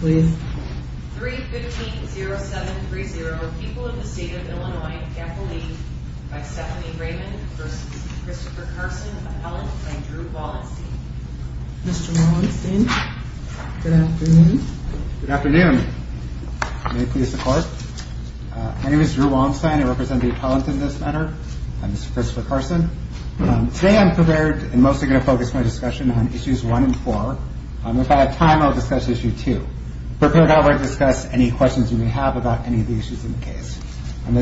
Good afternoon. My name is Drew Wallenstein and I represent the appellant in this matter. I'm Mr. Christopher Carson. Today I'm prepared and mostly going to focus my discussion on Issues 1 and 4. If I have time I'll discuss Issue 2. As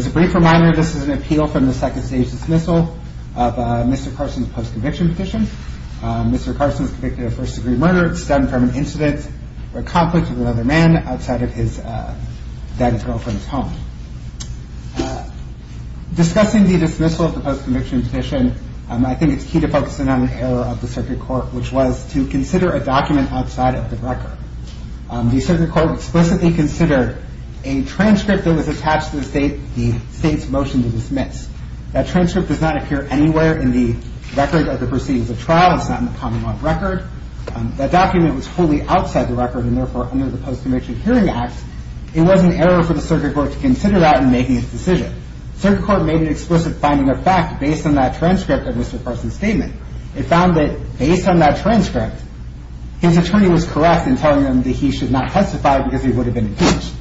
a brief reminder, this is an appeal from the second stage dismissal of Mr. Carson's post-conviction petition. Mr. Carson is convicted of first degree murder stemmed from an incident or conflict with another man outside of his then girlfriend's home. Discussing the dismissal of the post-conviction petition, I think it's key to focus in on an error of the circuit court which was to consider a document outside of the record. The circuit court explicitly considered a transcript that was attached to the state's motion to dismiss. That transcript does not appear anywhere in the record of the proceedings of trial. It's not in the common law record. That document was wholly outside the record and therefore under the Post-Conviction Hearing Act, it was an error for the circuit court to consider that in making its decision. The circuit court made an explicit finding of fact based on that transcript of Mr. Carson's statement. It found that based on that transcript, his attorney was correct in telling him that he should not testify because he would have been impeached.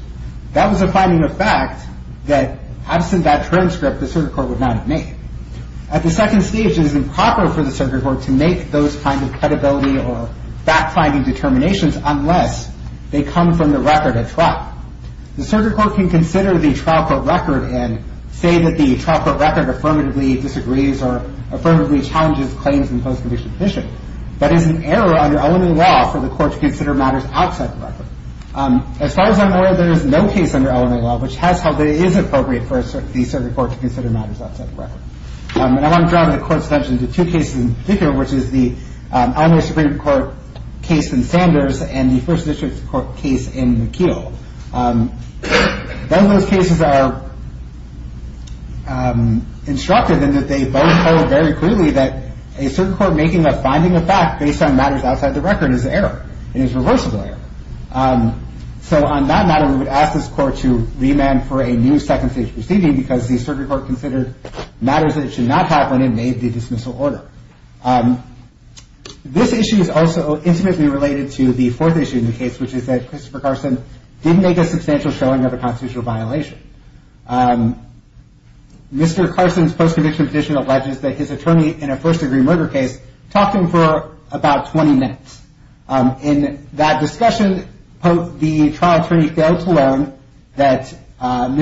That was a finding of fact that absent that transcript, the circuit court would not have made. At the second stage, it is improper for the circuit court to make those kinds of credibility or fact-finding determinations unless they come from the record at trial. The circuit court can consider the trial court record and say that the trial court record affirmatively disagrees or affirmatively challenges claims in post-conviction petition. That is an error under elementary law for the court to consider matters outside the record. As far as I'm aware, there is no case under elementary law which has held that it is appropriate for the circuit court to consider matters outside the record. And I want to draw the court's attention to two cases in particular, which is the Eleanor Supreme Court case in Sanders and the First District Court case in McKeel. Both of those cases are instructive in that they both hold very clearly that a circuit court making a finding of fact based on matters outside the record is an error. It is reversible error. So on that matter, we would ask this court to remand for a new second stage proceeding because the circuit court considered matters that it should not have when it made the dismissal order. This issue is also intimately related to the fourth issue in the case, which is that Christopher Carson didn't make a substantial showing of a constitutional violation. Mr. Carson's post-conviction petition alleges that his attorney in a first-degree murder case talked to him for about 20 minutes. In that discussion, the trial attorney failed to learn and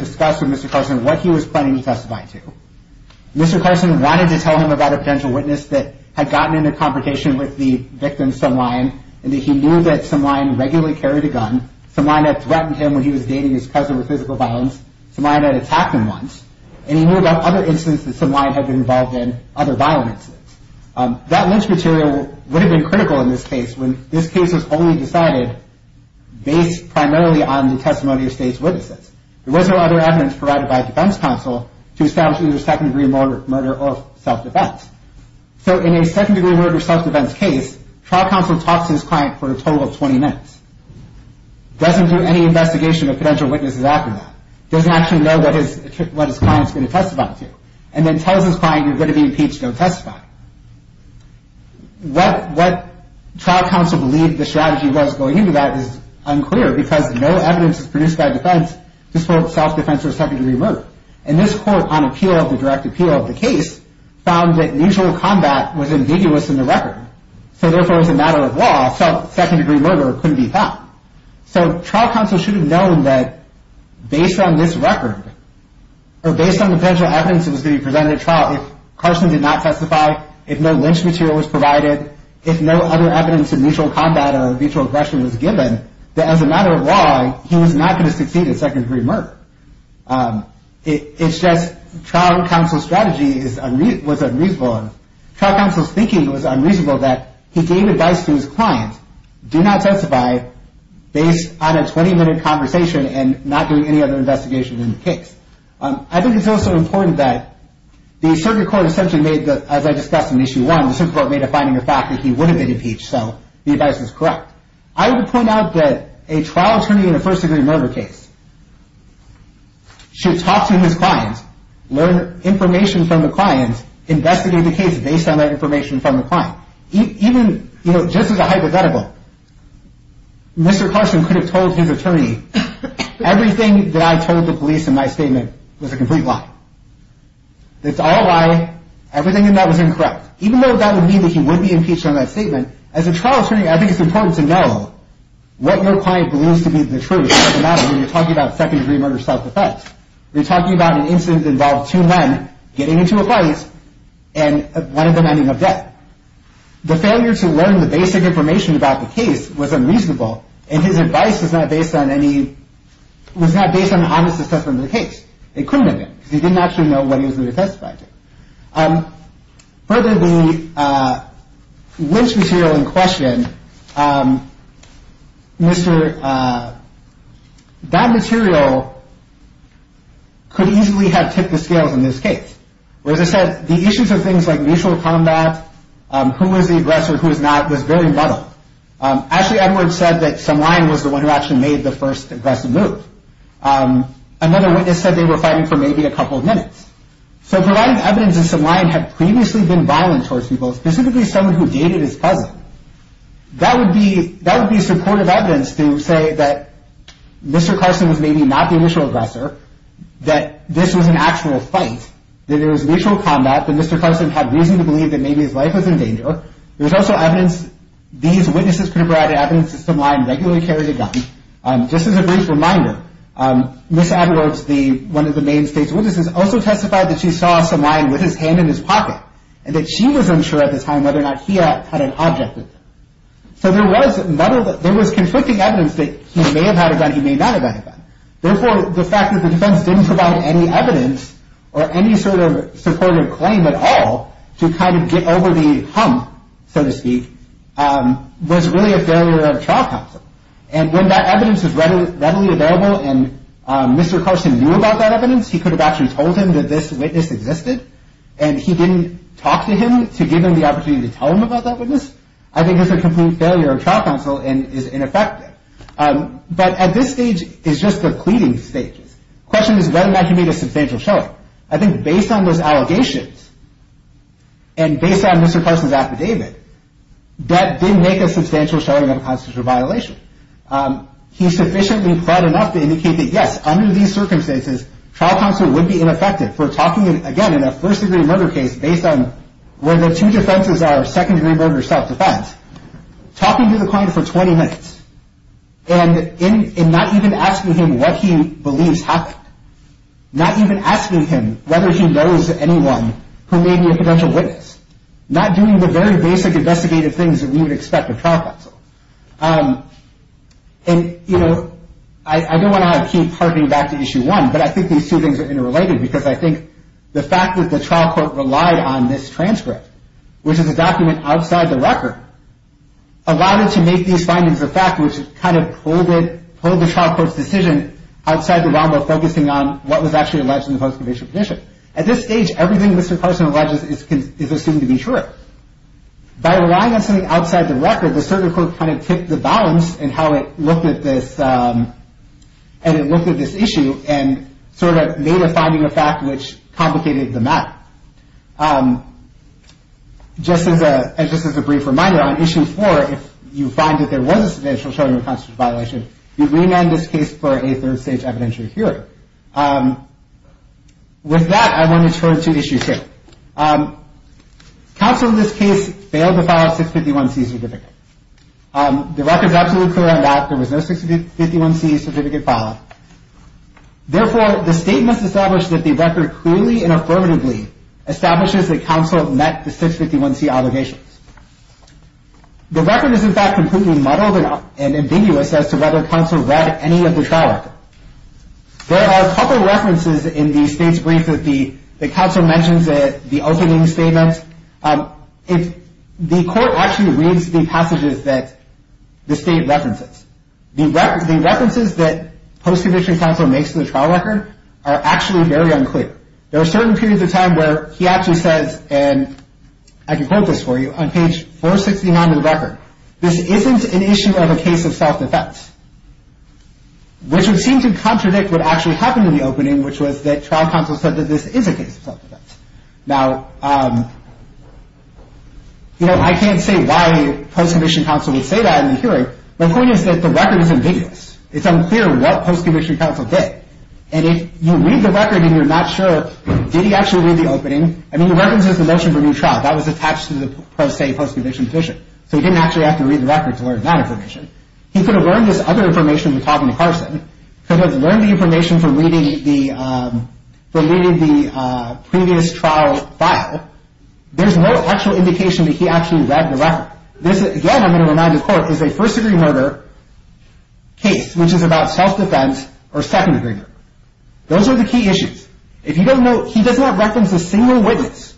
discuss with Mr. Carson what he was planning to testify to. Mr. Carson wanted to tell him about a potential witness that had gotten into confrontation with the victim, some lion, and that he knew that some lion regularly carried a gun. Some lion had threatened him when he was dating his cousin with physical violence. Some lion had attacked him once. And he knew about other incidents that some lion had been involved in, other violent incidents. That lynch material would have been critical in this case when this case was only decided based primarily on the testimony of state's witnesses. There was no other evidence provided by defense counsel to establish either second-degree murder or self-defense. So in a second-degree murder self-defense case, trial counsel talks to his client for a total of 20 minutes, doesn't do any investigation of potential witnesses after that, doesn't actually know what his client is going to testify to, and then tells his client, you're going to be impeached, don't testify. What trial counsel believed the strategy was going into that is unclear because no evidence is produced by defense to support self-defense or second-degree murder. And this court, on appeal, the direct appeal of the case, found that mutual combat was ambiguous in the record. So therefore, as a matter of law, a second-degree murder couldn't be found. So trial counsel should have known that based on this record, or based on the potential evidence that was going to be presented at trial, if Carson did not testify, if no lynch material was provided, if no other evidence of mutual combat or mutual aggression was given, that as a matter of law, he was not going to succeed at second-degree murder. It's just trial counsel's strategy was unreasonable. And trial counsel's thinking was unreasonable that he gave advice to his client, do not testify, based on a 20-minute conversation and not doing any other investigation in the case. I think it's also important that the circuit court essentially made, as I discussed in Issue 1, the circuit court made a finding of fact that he would have been impeached, so the advice is correct. I would point out that a trial attorney in a first-degree murder case should talk to his client, learn information from the client, investigate the case based on that information from the client. Even, you know, just as a hypothetical, Mr. Carson could have told his attorney, everything that I told the police in my statement was a complete lie. It's all a lie, everything in that was incorrect. Even though that would mean that he would be impeached on that statement, as a trial attorney, I think it's important to know what your client believes to be the truth. When you're talking about second-degree murder self-defense, you're talking about an incident involving two men getting into a fight and one of them ending up dead. The failure to learn the basic information about the case was unreasonable, and his advice was not based on honest assessment of the case. It couldn't have been, because he didn't actually know what he was going to testify to. Further, the lynch material in question, Mr. That material could easily have tipped the scales in this case. Whereas I said, the issues of things like mutual combat, who was the aggressor, who was not, was very muddled. Ashley Edwards said that Sam Lyon was the one who actually made the first aggressive move. Another witness said they were fighting for maybe a couple of minutes. So providing evidence that Sam Lyon had previously been violent towards people, specifically someone who dated his cousin, that would be supportive evidence to say that Mr. Carson was maybe not the initial aggressor, that this was an actual fight, that there was mutual combat, that Mr. Carson had reason to believe that maybe his life was in danger. There was also evidence these witnesses could have provided evidence that Sam Lyon regularly carried a gun. And just as a brief reminder, Ms. Edwards, one of the main state's witnesses, also testified that she saw Sam Lyon with his hand in his pocket, and that she was unsure at the time whether or not he had an object with him. So there was conflicting evidence that he may have had a gun, he may not have had a gun. Therefore, the fact that the defense didn't provide any evidence or any sort of supportive claim at all to kind of get over the hump, so to speak, was really a failure of trial counsel. And when that evidence was readily available and Mr. Carson knew about that evidence, he could have actually told him that this witness existed, and he didn't talk to him to give him the opportunity to tell him about that witness, I think it's a complete failure of trial counsel and is ineffective. But at this stage, it's just the cleaning stages. The question is whether or not he made a substantial showing. I think based on those allegations and based on Mr. Carson's affidavit, that didn't make a substantial showing of a constitutional violation. He's sufficiently proud enough to indicate that, yes, under these circumstances, trial counsel would be ineffective for talking, again, in a first-degree murder case based on where the two defenses are second-degree murder self-defense, talking to the client for 20 minutes and not even asking him what he believes happened, not even asking him whether he knows anyone who may be a potential witness, not doing the very basic investigative things that we would expect of trial counsel. And, you know, I don't want to keep harking back to Issue 1, but I think these two things are interrelated because I think the fact that the trial court relied on this transcript, which is a document outside the record, allowed it to make these findings of fact which kind of pulled the trial court's decision outside the realm of focusing on what was actually alleged in the post-conviction petition. At this stage, everything Mr. Carson alleges is assumed to be true. By relying on something outside the record, the circuit court kind of tipped the balance in how it looked at this issue and sort of made a finding of fact which complicated the matter. Just as a brief reminder, on Issue 4, if you find that there was a substantial showing of a constitutional violation, you remand this case for a third-stage evidentiary hearing. With that, I want to turn to Issue 2. Counsel in this case failed to file a 651C certificate. The record is absolutely clear on that. There was no 651C certificate filed. Therefore, the state must establish that the record clearly and affirmatively establishes that counsel met the 651C obligations. The record is, in fact, completely muddled and ambiguous as to whether counsel read any of the trial record. There are a couple of references in the state's brief that the counsel mentions at the opening statement. The court actually reads the passages that the state references. The references that post-conviction counsel makes to the trial record are actually very unclear. There are certain periods of time where he actually says, and I can quote this for you, on page 469 of the record, this isn't an issue of a case of self-defense, which would seem to contradict what actually happened in the opening, which was that trial counsel said that this is a case of self-defense. Now, you know, I can't say why post-conviction counsel would say that in the hearing. My point is that the record is ambiguous. It's unclear what post-conviction counsel did. And if you read the record and you're not sure, did he actually read the opening? I mean, he references the motion for new trial. That was attached to the pro se post-conviction position. So he didn't actually have to read the record to learn that information. He could have learned this other information from talking to Carson, could have learned the information from reading the previous trial file. There's no actual indication that he actually read the record. This, again, I'm going to remind the court, is a first-degree murder case, which is about self-defense or second-degree murder. Those are the key issues. He does not reference a single witness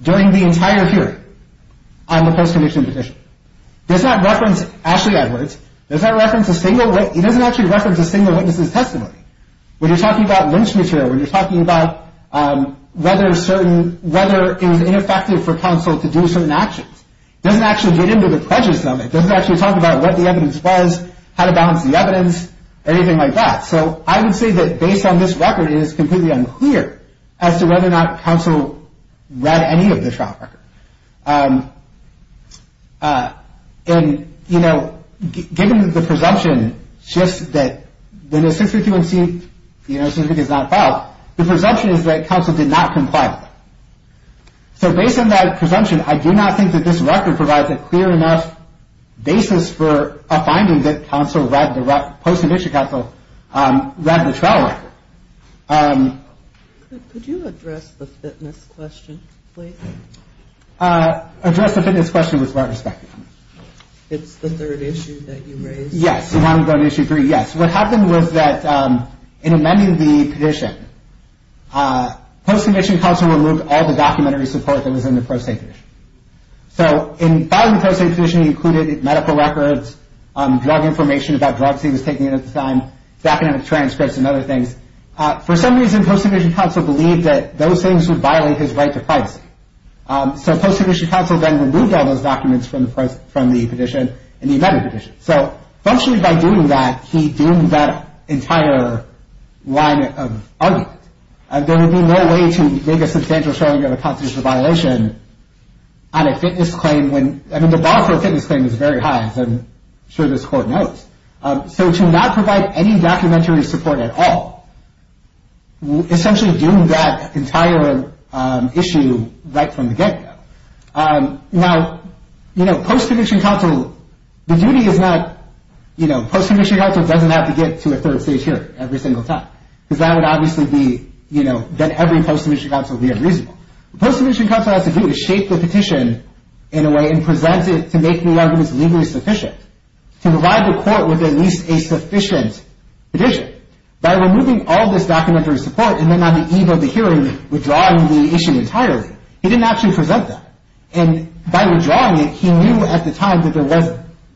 during the entire hearing on the post-conviction position. He does not reference Ashley Edwards. He doesn't actually reference a single witness's testimony. When you're talking about lynch material, when you're talking about whether it was ineffective for counsel to do certain actions, he doesn't actually get into the prejudice of it. He doesn't actually talk about what the evidence was, how to balance the evidence, anything like that. So I would say that, based on this record, it is completely unclear as to whether or not counsel read any of the trial record. And, you know, given the presumption just that the necessity to unseek the necessity to not file, the presumption is that counsel did not comply with it. So based on that presumption, I do not think that this record provides a clear enough basis for a finding that post-conviction counsel read the trial record. Could you address the fitness question, please? Address the fitness question with what respect? It's the third issue that you raised. Yes, the long-run issue three, yes. What happened was that, in amending the petition, post-conviction counsel removed all the documentary support that was in the pro se petition. So in filing the post-conviction petition, he included medical records, drug information about drugs he was taking at the time, academic transcripts and other things. For some reason, post-conviction counsel believed that those things would violate his right to privacy. So post-conviction counsel then removed all those documents from the petition and he amended the petition. So, functionally, by doing that, he doomed that entire line of argument. There would be no way to make a substantial showing of a constitutional violation on a fitness claim when, I mean, the bar for a fitness claim is very high, as I'm sure this court knows. So to not provide any documentary support at all, essentially doomed that entire issue right from the get-go. Now, you know, post-conviction counsel, the duty is not, you know, post-conviction counsel doesn't have to get to a third stage hearing every single time, because that would obviously be, you know, that every post-conviction counsel would be unreasonable. What post-conviction counsel has to do is shape the petition in a way and present it to make the arguments legally sufficient to provide the court with at least a sufficient petition. By removing all this documentary support and then on the eve of the hearing withdrawing the issue entirely, he didn't actually present that. And by withdrawing it, he knew at the time that there was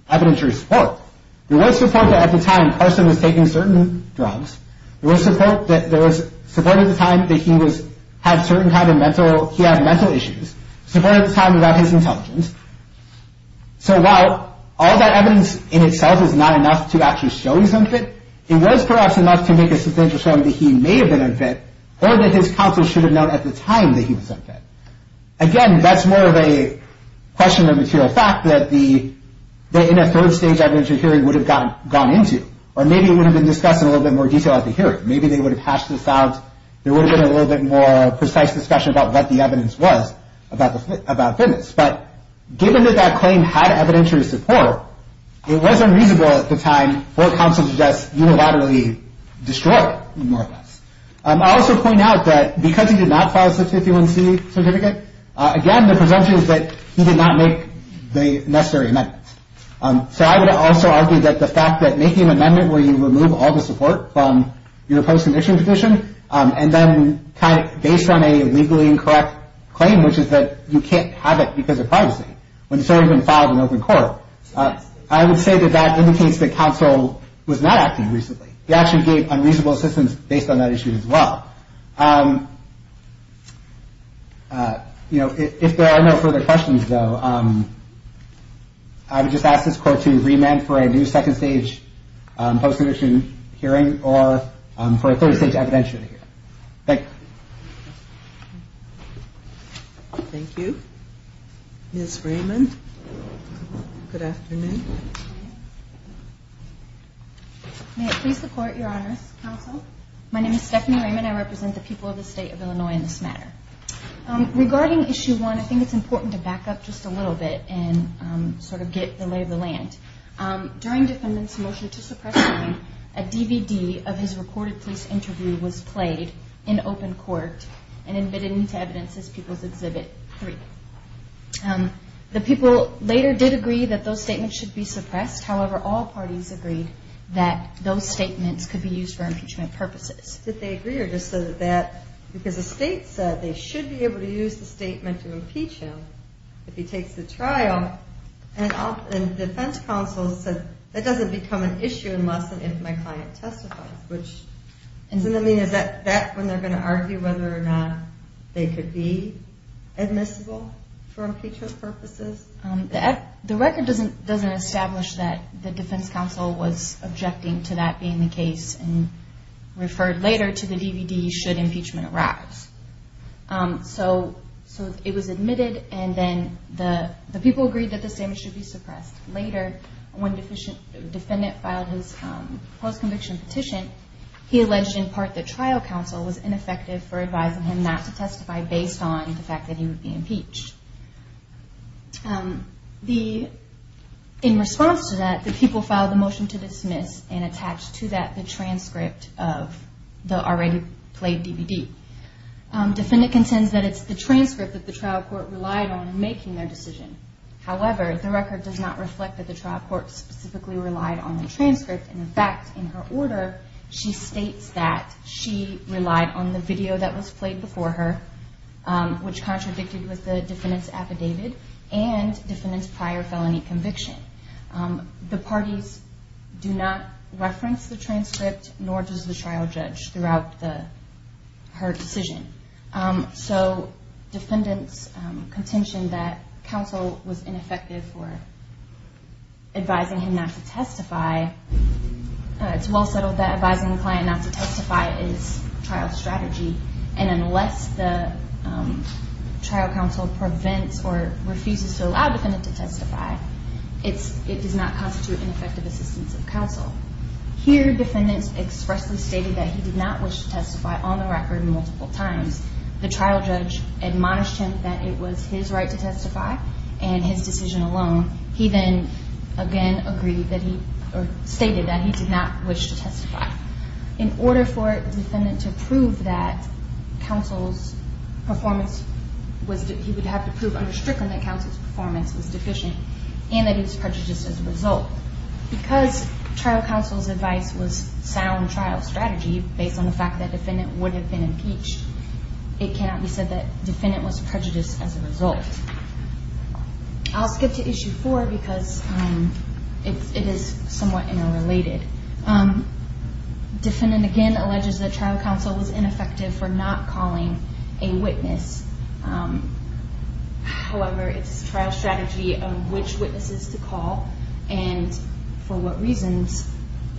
evidentiary support. There was support that at the time Carson was taking certain drugs. There was support at the time that he had mental issues. Support at the time about his intelligence. So while all that evidence in itself is not enough to actually show he's unfit, it was perhaps enough to make a substantial showing that he may have been unfit or that his counsel should have known at the time that he was unfit. Again, that's more of a question of material fact that in a third stage evidentiary hearing would have gone into. Or maybe it would have been discussed in a little bit more detail at the hearing. Maybe they would have hashed this out. There would have been a little bit more precise discussion about what the evidence was about fitness. But given that that claim had evidentiary support, it was unreasonable at the time for counsel to just unilaterally destroy more of this. I'll also point out that because he did not file a 51C certificate, again the presumption is that he did not make the necessary amendments. So I would also argue that the fact that making an amendment where you remove all the support from your post-condition petition and then based on a legally incorrect claim, which is that you can't have it because of privacy when it's already been filed in open court, I would say that that indicates that counsel was not acting reasonably. He actually gave unreasonable assistance based on that issue as well. If there are no further questions, though, I would just ask this court to remand for a new second stage post-condition hearing or for a third stage evidentiary hearing. Thank you. Thank you. Ms. Raymond, good afternoon. May it please the court, Your Honor. Counsel. My name is Stephanie Raymond. I represent the people of the state of Illinois in this matter. Regarding Issue 1, I think it's important to back up just a little bit and sort of get the lay of the land. During defendant's motion to suppress the claim, a DVD of his recorded police interview was played in open court and admitted into evidence as People's Exhibit 3. The people later did agree that those statements should be suppressed. However, all parties agreed that those statements could be used for impeachment purposes. Did they agree or just said that because the state said they should be able to use the statement to impeach him if he takes the trial and the defense counsel said that doesn't become an issue unless and if my client testifies, which doesn't mean is that when they're going to argue whether or not they could be admissible for impeachment purposes? The record doesn't establish that the defense counsel was objecting to that being the case and referred later to the DVD should impeachment arise. So it was admitted and then the people agreed that the statement should be suppressed. Later, when the defendant filed his post-conviction petition, he alleged in part that trial counsel was ineffective for advising him not to testify based on the fact that he would be impeached. In response to that, the people filed a motion to dismiss and attached to that the transcript of the already played DVD. Defendant contends that it's the transcript that the trial court relied on in making their decision. However, the record does not reflect that the trial court specifically relied on the transcript. In fact, in her order, she states that she relied on the video that was played before her, which contradicted with the defendant's affidavit and defendant's prior felony conviction. The parties do not reference the transcript, nor does the trial judge, throughout her decision. So defendant's contention that counsel was ineffective for advising him not to testify, it's well settled that advising the client not to testify is trial strategy, and unless the trial counsel prevents or refuses to allow the defendant to testify, it does not constitute ineffective assistance of counsel. Here defendants expressly stated that he did not wish to testify on the record multiple times. The trial judge admonished him that it was his right to testify, and his decision alone. He then again stated that he did not wish to testify. In order for the defendant to prove that counsel's performance was deficient, he would have to prove under Strickland that counsel's performance was deficient and that he was prejudiced as a result. Because trial counsel's advice was sound trial strategy, based on the fact that defendant would have been impeached, it cannot be said that defendant was prejudiced as a result. I'll skip to issue four because it is somewhat interrelated. Defendant again alleges that trial counsel was ineffective for not calling a witness. However, it's trial strategy of which witnesses to call, and for what reasons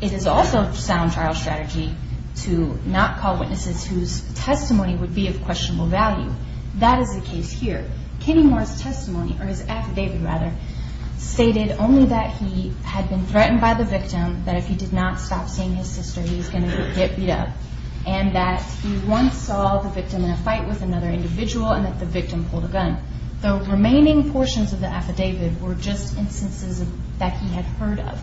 it is also sound trial strategy to not call witnesses whose testimony would be of questionable value. That is the case here. Kenny Moore's testimony, or his affidavit rather, stated only that he had been threatened by the victim, that if he did not stop seeing his sister he was going to get beat up, and that he once saw the victim in a fight with another individual and that the victim pulled a gun. The remaining portions of the affidavit were just instances that he had heard of.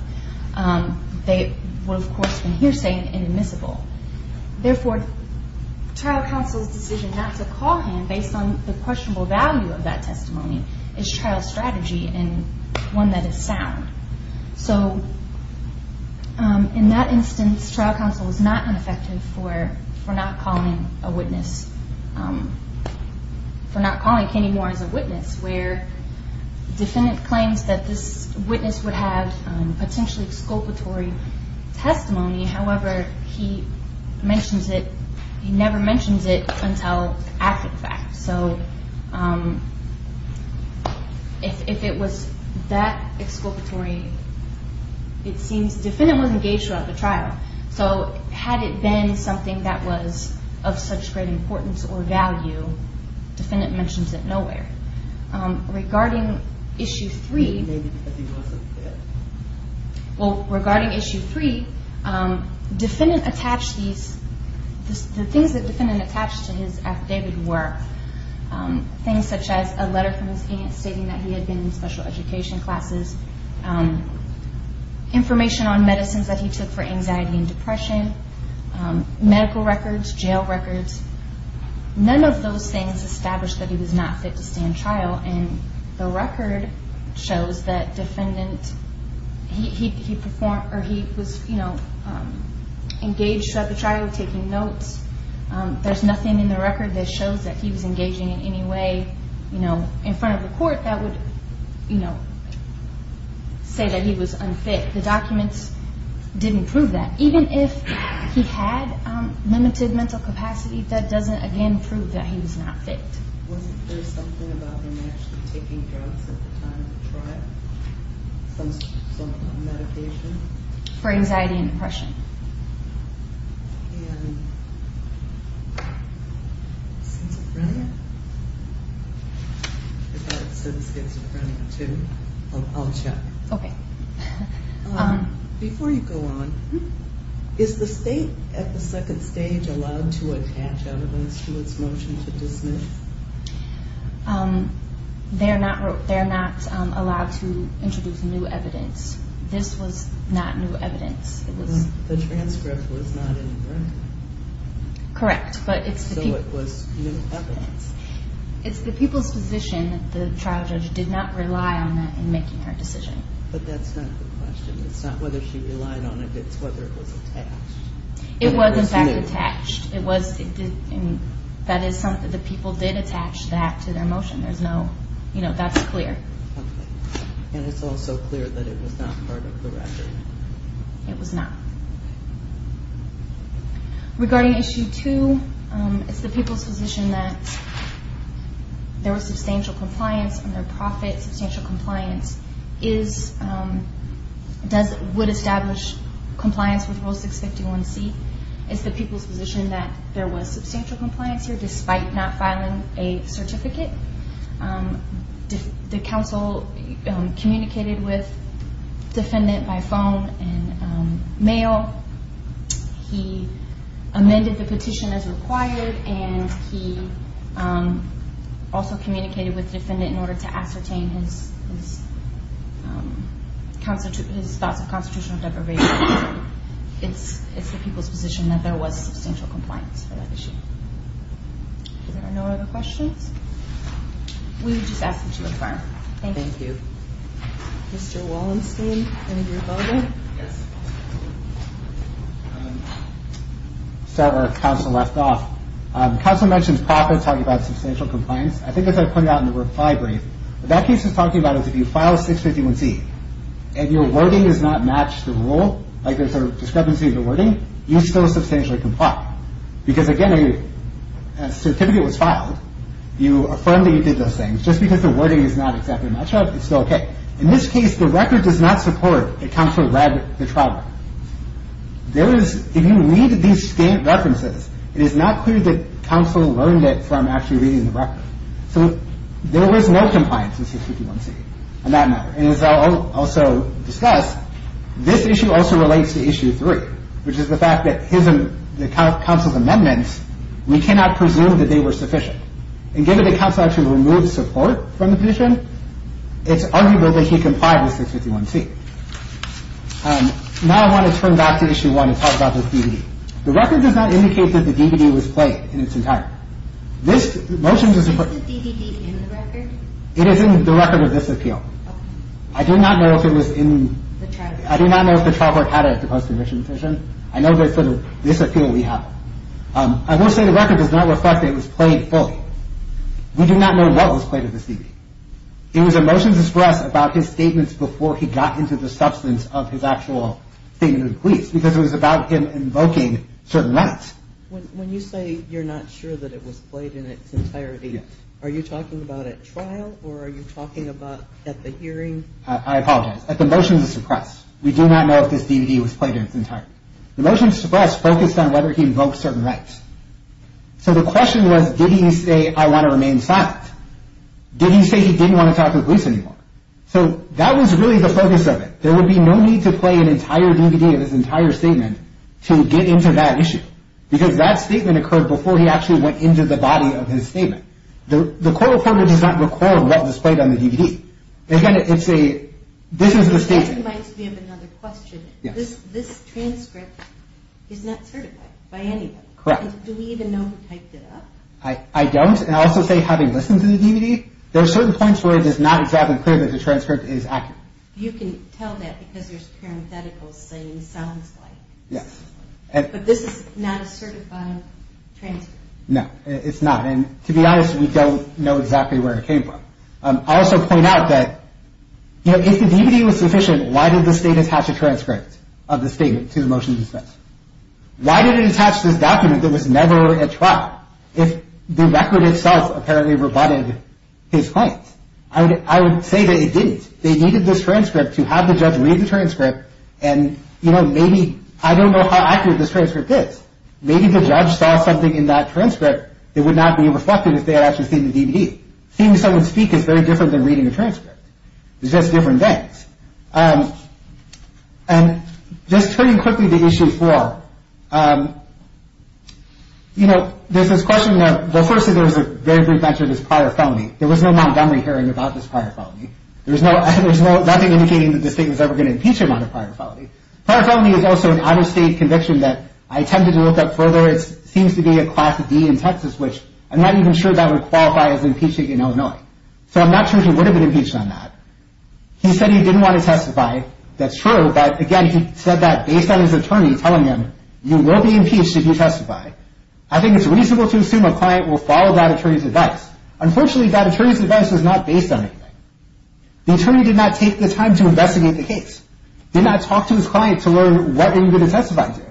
They would, of course, have been hearsay and admissible. Therefore, trial counsel's decision not to call him based on the questionable value of that testimony is trial strategy and one that is sound. So in that instance, trial counsel was not ineffective for not calling a witness, for not calling Kenny Moore as a witness, where the defendant claims that this witness would have potentially exculpatory testimony. However, he mentions it. He never mentions it until after the fact. So if it was that exculpatory, it seems the defendant was engaged throughout the trial. So had it been something that was of such great importance or value, the defendant mentions it nowhere. Regarding Issue 3, well, regarding Issue 3, the things that the defendant attached to his affidavit were things such as a letter from his aunt stating that he had been in special education classes, information on medicines that he took for anxiety and depression, medical records, jail records. None of those things established that he was not fit to stand trial, and the record shows that he was engaged throughout the trial, taking notes. There's nothing in the record that shows that he was engaging in any way in front of the court that would say that he was unfit. The documents didn't prove that. Even if he had limited mental capacity, that doesn't, again, prove that he was not fit. Wasn't there something about him actually taking drugs at the time of the trial, some medication? For anxiety and depression. And schizophrenia? I thought it said schizophrenia too. I'll check. Okay. Before you go on, is the state at the second stage allowed to attach evidence to its motion to dismiss? They're not allowed to introduce new evidence. This was not new evidence. The transcript was not incorrect? Correct, but it's the people's position that the trial judge did not rely on that in making her decision. But that's not the question. It's not whether she relied on it, it's whether it was attached. It was, in fact, attached. That is, the people did attach that to their motion. That's clear. Okay. And it's also clear that it was not part of the record? It was not. Regarding issue two, it's the people's position that there was substantial compliance on their profit. And that substantial compliance would establish compliance with Rule 651C. It's the people's position that there was substantial compliance here, despite not filing a certificate. The counsel communicated with defendant by phone and mail. He amended the petition as required. And he also communicated with defendant in order to ascertain his thoughts of constitutional deprivation. It's the people's position that there was substantial compliance for that issue. Are there no other questions? We would just ask that you affirm. Thank you. Thank you. Mr. Wallenstein, any of you have a follow-up? Yes. Sorry, our counsel left off. Counsel mentioned profit talking about substantial compliance. I think as I pointed out in the reply brief, what that case is talking about is if you file 651C and your wording does not match the rule, like there's a discrepancy in the wording, you still substantially comply. Because, again, a certificate was filed. You affirmed that you did those things. Just because the wording is not exactly a match-up, it's still okay. In this case, the record does not support that counsel read the trial record. If you read these references, it is not clear that counsel learned it from actually reading the record. So there was no compliance in 651C on that matter. And as I'll also discuss, this issue also relates to Issue 3, which is the fact that the counsel's amendments, we cannot presume that they were sufficient. And given that counsel actually removed support from the petition, it's arguable that he complied with 651C. Now I want to turn back to Issue 1 and talk about this DVD. The record does not indicate that the DVD was played in its entire. This motion does not – Is the DVD in the record? It is in the record of this appeal. Okay. I do not know if it was in – The trial record. I do not know how to post an admission petition. I know there's sort of this appeal we have. I will say the record does not reflect that it was played fully. We do not know what was played in this DVD. It was a motion to suppress about his statements before he got into the substance of his actual statement to the police because it was about him invoking certain rights. When you say you're not sure that it was played in its entirety, are you talking about at trial or are you talking about at the hearing? I apologize. At the motion to suppress. We do not know if this DVD was played in its entirety. The motion to suppress focused on whether he invoked certain rights. So the question was, did he say, I want to remain silent? Did he say he didn't want to talk to the police anymore? So that was really the focus of it. There would be no need to play an entire DVD of his entire statement to get into that issue because that statement occurred before he actually went into the body of his statement. The court recorder does not record what was played on the DVD. This is the statement. That reminds me of another question. This transcript is not certified by anybody. Correct. Do we even know who typed it up? I don't. And I'll also say having listened to the DVD, there are certain points where it is not exactly clear that the transcript is accurate. You can tell that because there's parentheticals saying sounds like. Yes. But this is not a certified transcript. No, it's not. And to be honest, we don't know exactly where it came from. I'll also point out that, you know, if the DVD was sufficient, why did the state attach a transcript of the statement to the motion of dismissal? Why did it attach this document that was never a trial if the record itself apparently rebutted his claims? I would say that it didn't. They needed this transcript to have the judge read the transcript and, you know, maybe I don't know how accurate this transcript is. Maybe the judge saw something in that transcript that would not be reflected if they had actually seen the DVD. Seeing someone speak is very different than reading a transcript. It's just different things. And just turning quickly to Issue 4, you know, there's this question of, well, firstly, there was a very brief mention of this prior felony. There was no Montgomery hearing about this prior felony. There was nothing indicating that the state was ever going to impeach him on a prior felony. Prior felony is also an out-of-state conviction that I attempted to look up further. It seems to be a Class D in Texas, which I'm not even sure that would qualify as impeaching in Illinois. So I'm not sure he would have been impeached on that. He said he didn't want to testify. That's true, but, again, he said that based on his attorney telling him, you will be impeached if you testify. I think it's reasonable to assume a client will follow that attorney's advice. Unfortunately, that attorney's advice is not based on anything. The attorney did not take the time to investigate the case. He did not talk to his client to learn what are you going to testify to. He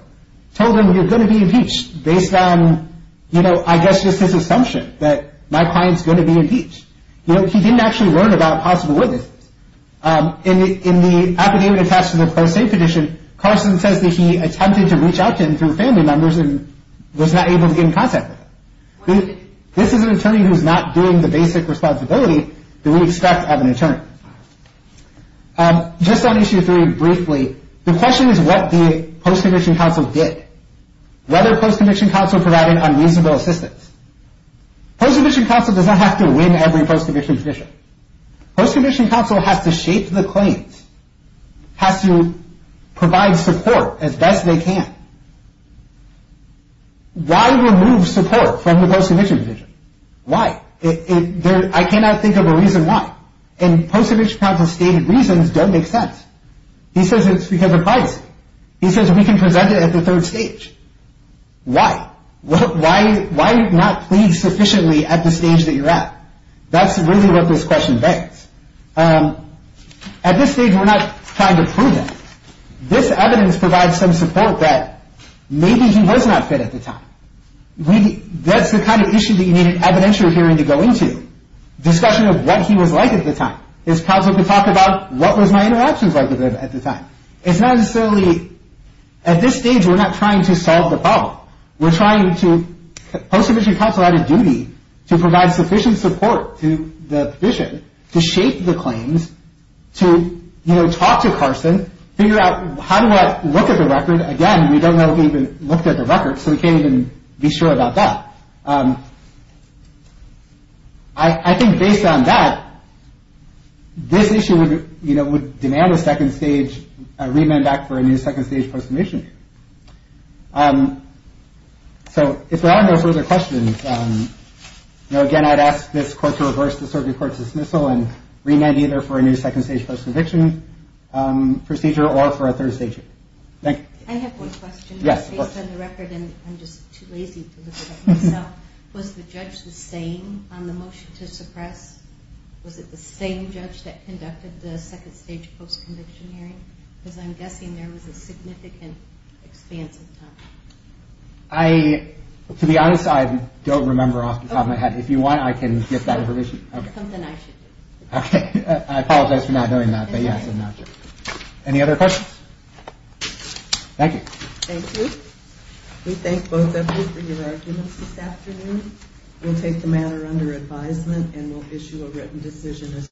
told him you're going to be impeached based on, you know, I guess just his assumption that my client's going to be impeached. You know, he didn't actually learn about possible witnesses. In the affidavit attached to the post-state petition, Carson says that he attempted to reach out to him through family members and was not able to get in contact with him. This is an attorney who's not doing the basic responsibility that we expect of an attorney. Just on issue three briefly, the question is what the post-conviction counsel did. Whether post-conviction counsel provided unreasonable assistance. Post-conviction counsel does not have to win every post-conviction petition. Post-conviction counsel has to shape the claims, has to provide support as best they can. Why remove support from the post-conviction petition? Why? I cannot think of a reason why. And post-conviction counsel's stated reasons don't make sense. He says it's because of privacy. He says we can present it at the third stage. Why? Why not plead sufficiently at the stage that you're at? That's really what this question begs. At this stage, we're not trying to prove him. This evidence provides some support that maybe he was not fit at the time. That's the kind of issue that you need an evidentiary hearing to go into. Discussion of what he was like at the time. His counsel could talk about what was my interactions like with him at the time. It's not necessarily, at this stage, we're not trying to solve the problem. We're trying to, post-conviction counsel had a duty to provide sufficient support to the petition, to shape the claims, to, you know, talk to Carson, figure out how do I look at the record. Again, we don't know if he even looked at the record, so we can't even be sure about that. I think based on that, this issue would demand a second stage remand act for a new second stage post-conviction. So if there are no further questions, again, I'd ask this court to reverse the circuit court's dismissal and remand either for a new second stage post-conviction procedure or for a third stage. Thank you. I have one question. Based on the record, and I'm just too lazy to look at it myself, was the judge the same on the motion to suppress? Was it the same judge that conducted the second stage post-conviction hearing? Because I'm guessing there was a significant expanse of time. I, to be honest, I don't remember off the top of my head. If you want, I can get that information. Something I should do. Okay. I apologize for not knowing that, but yes, I'm not sure. Any other questions? Thank you. Thank you. We thank both of you for your arguments this afternoon. We'll take the matter under advisement and we'll issue a written decision.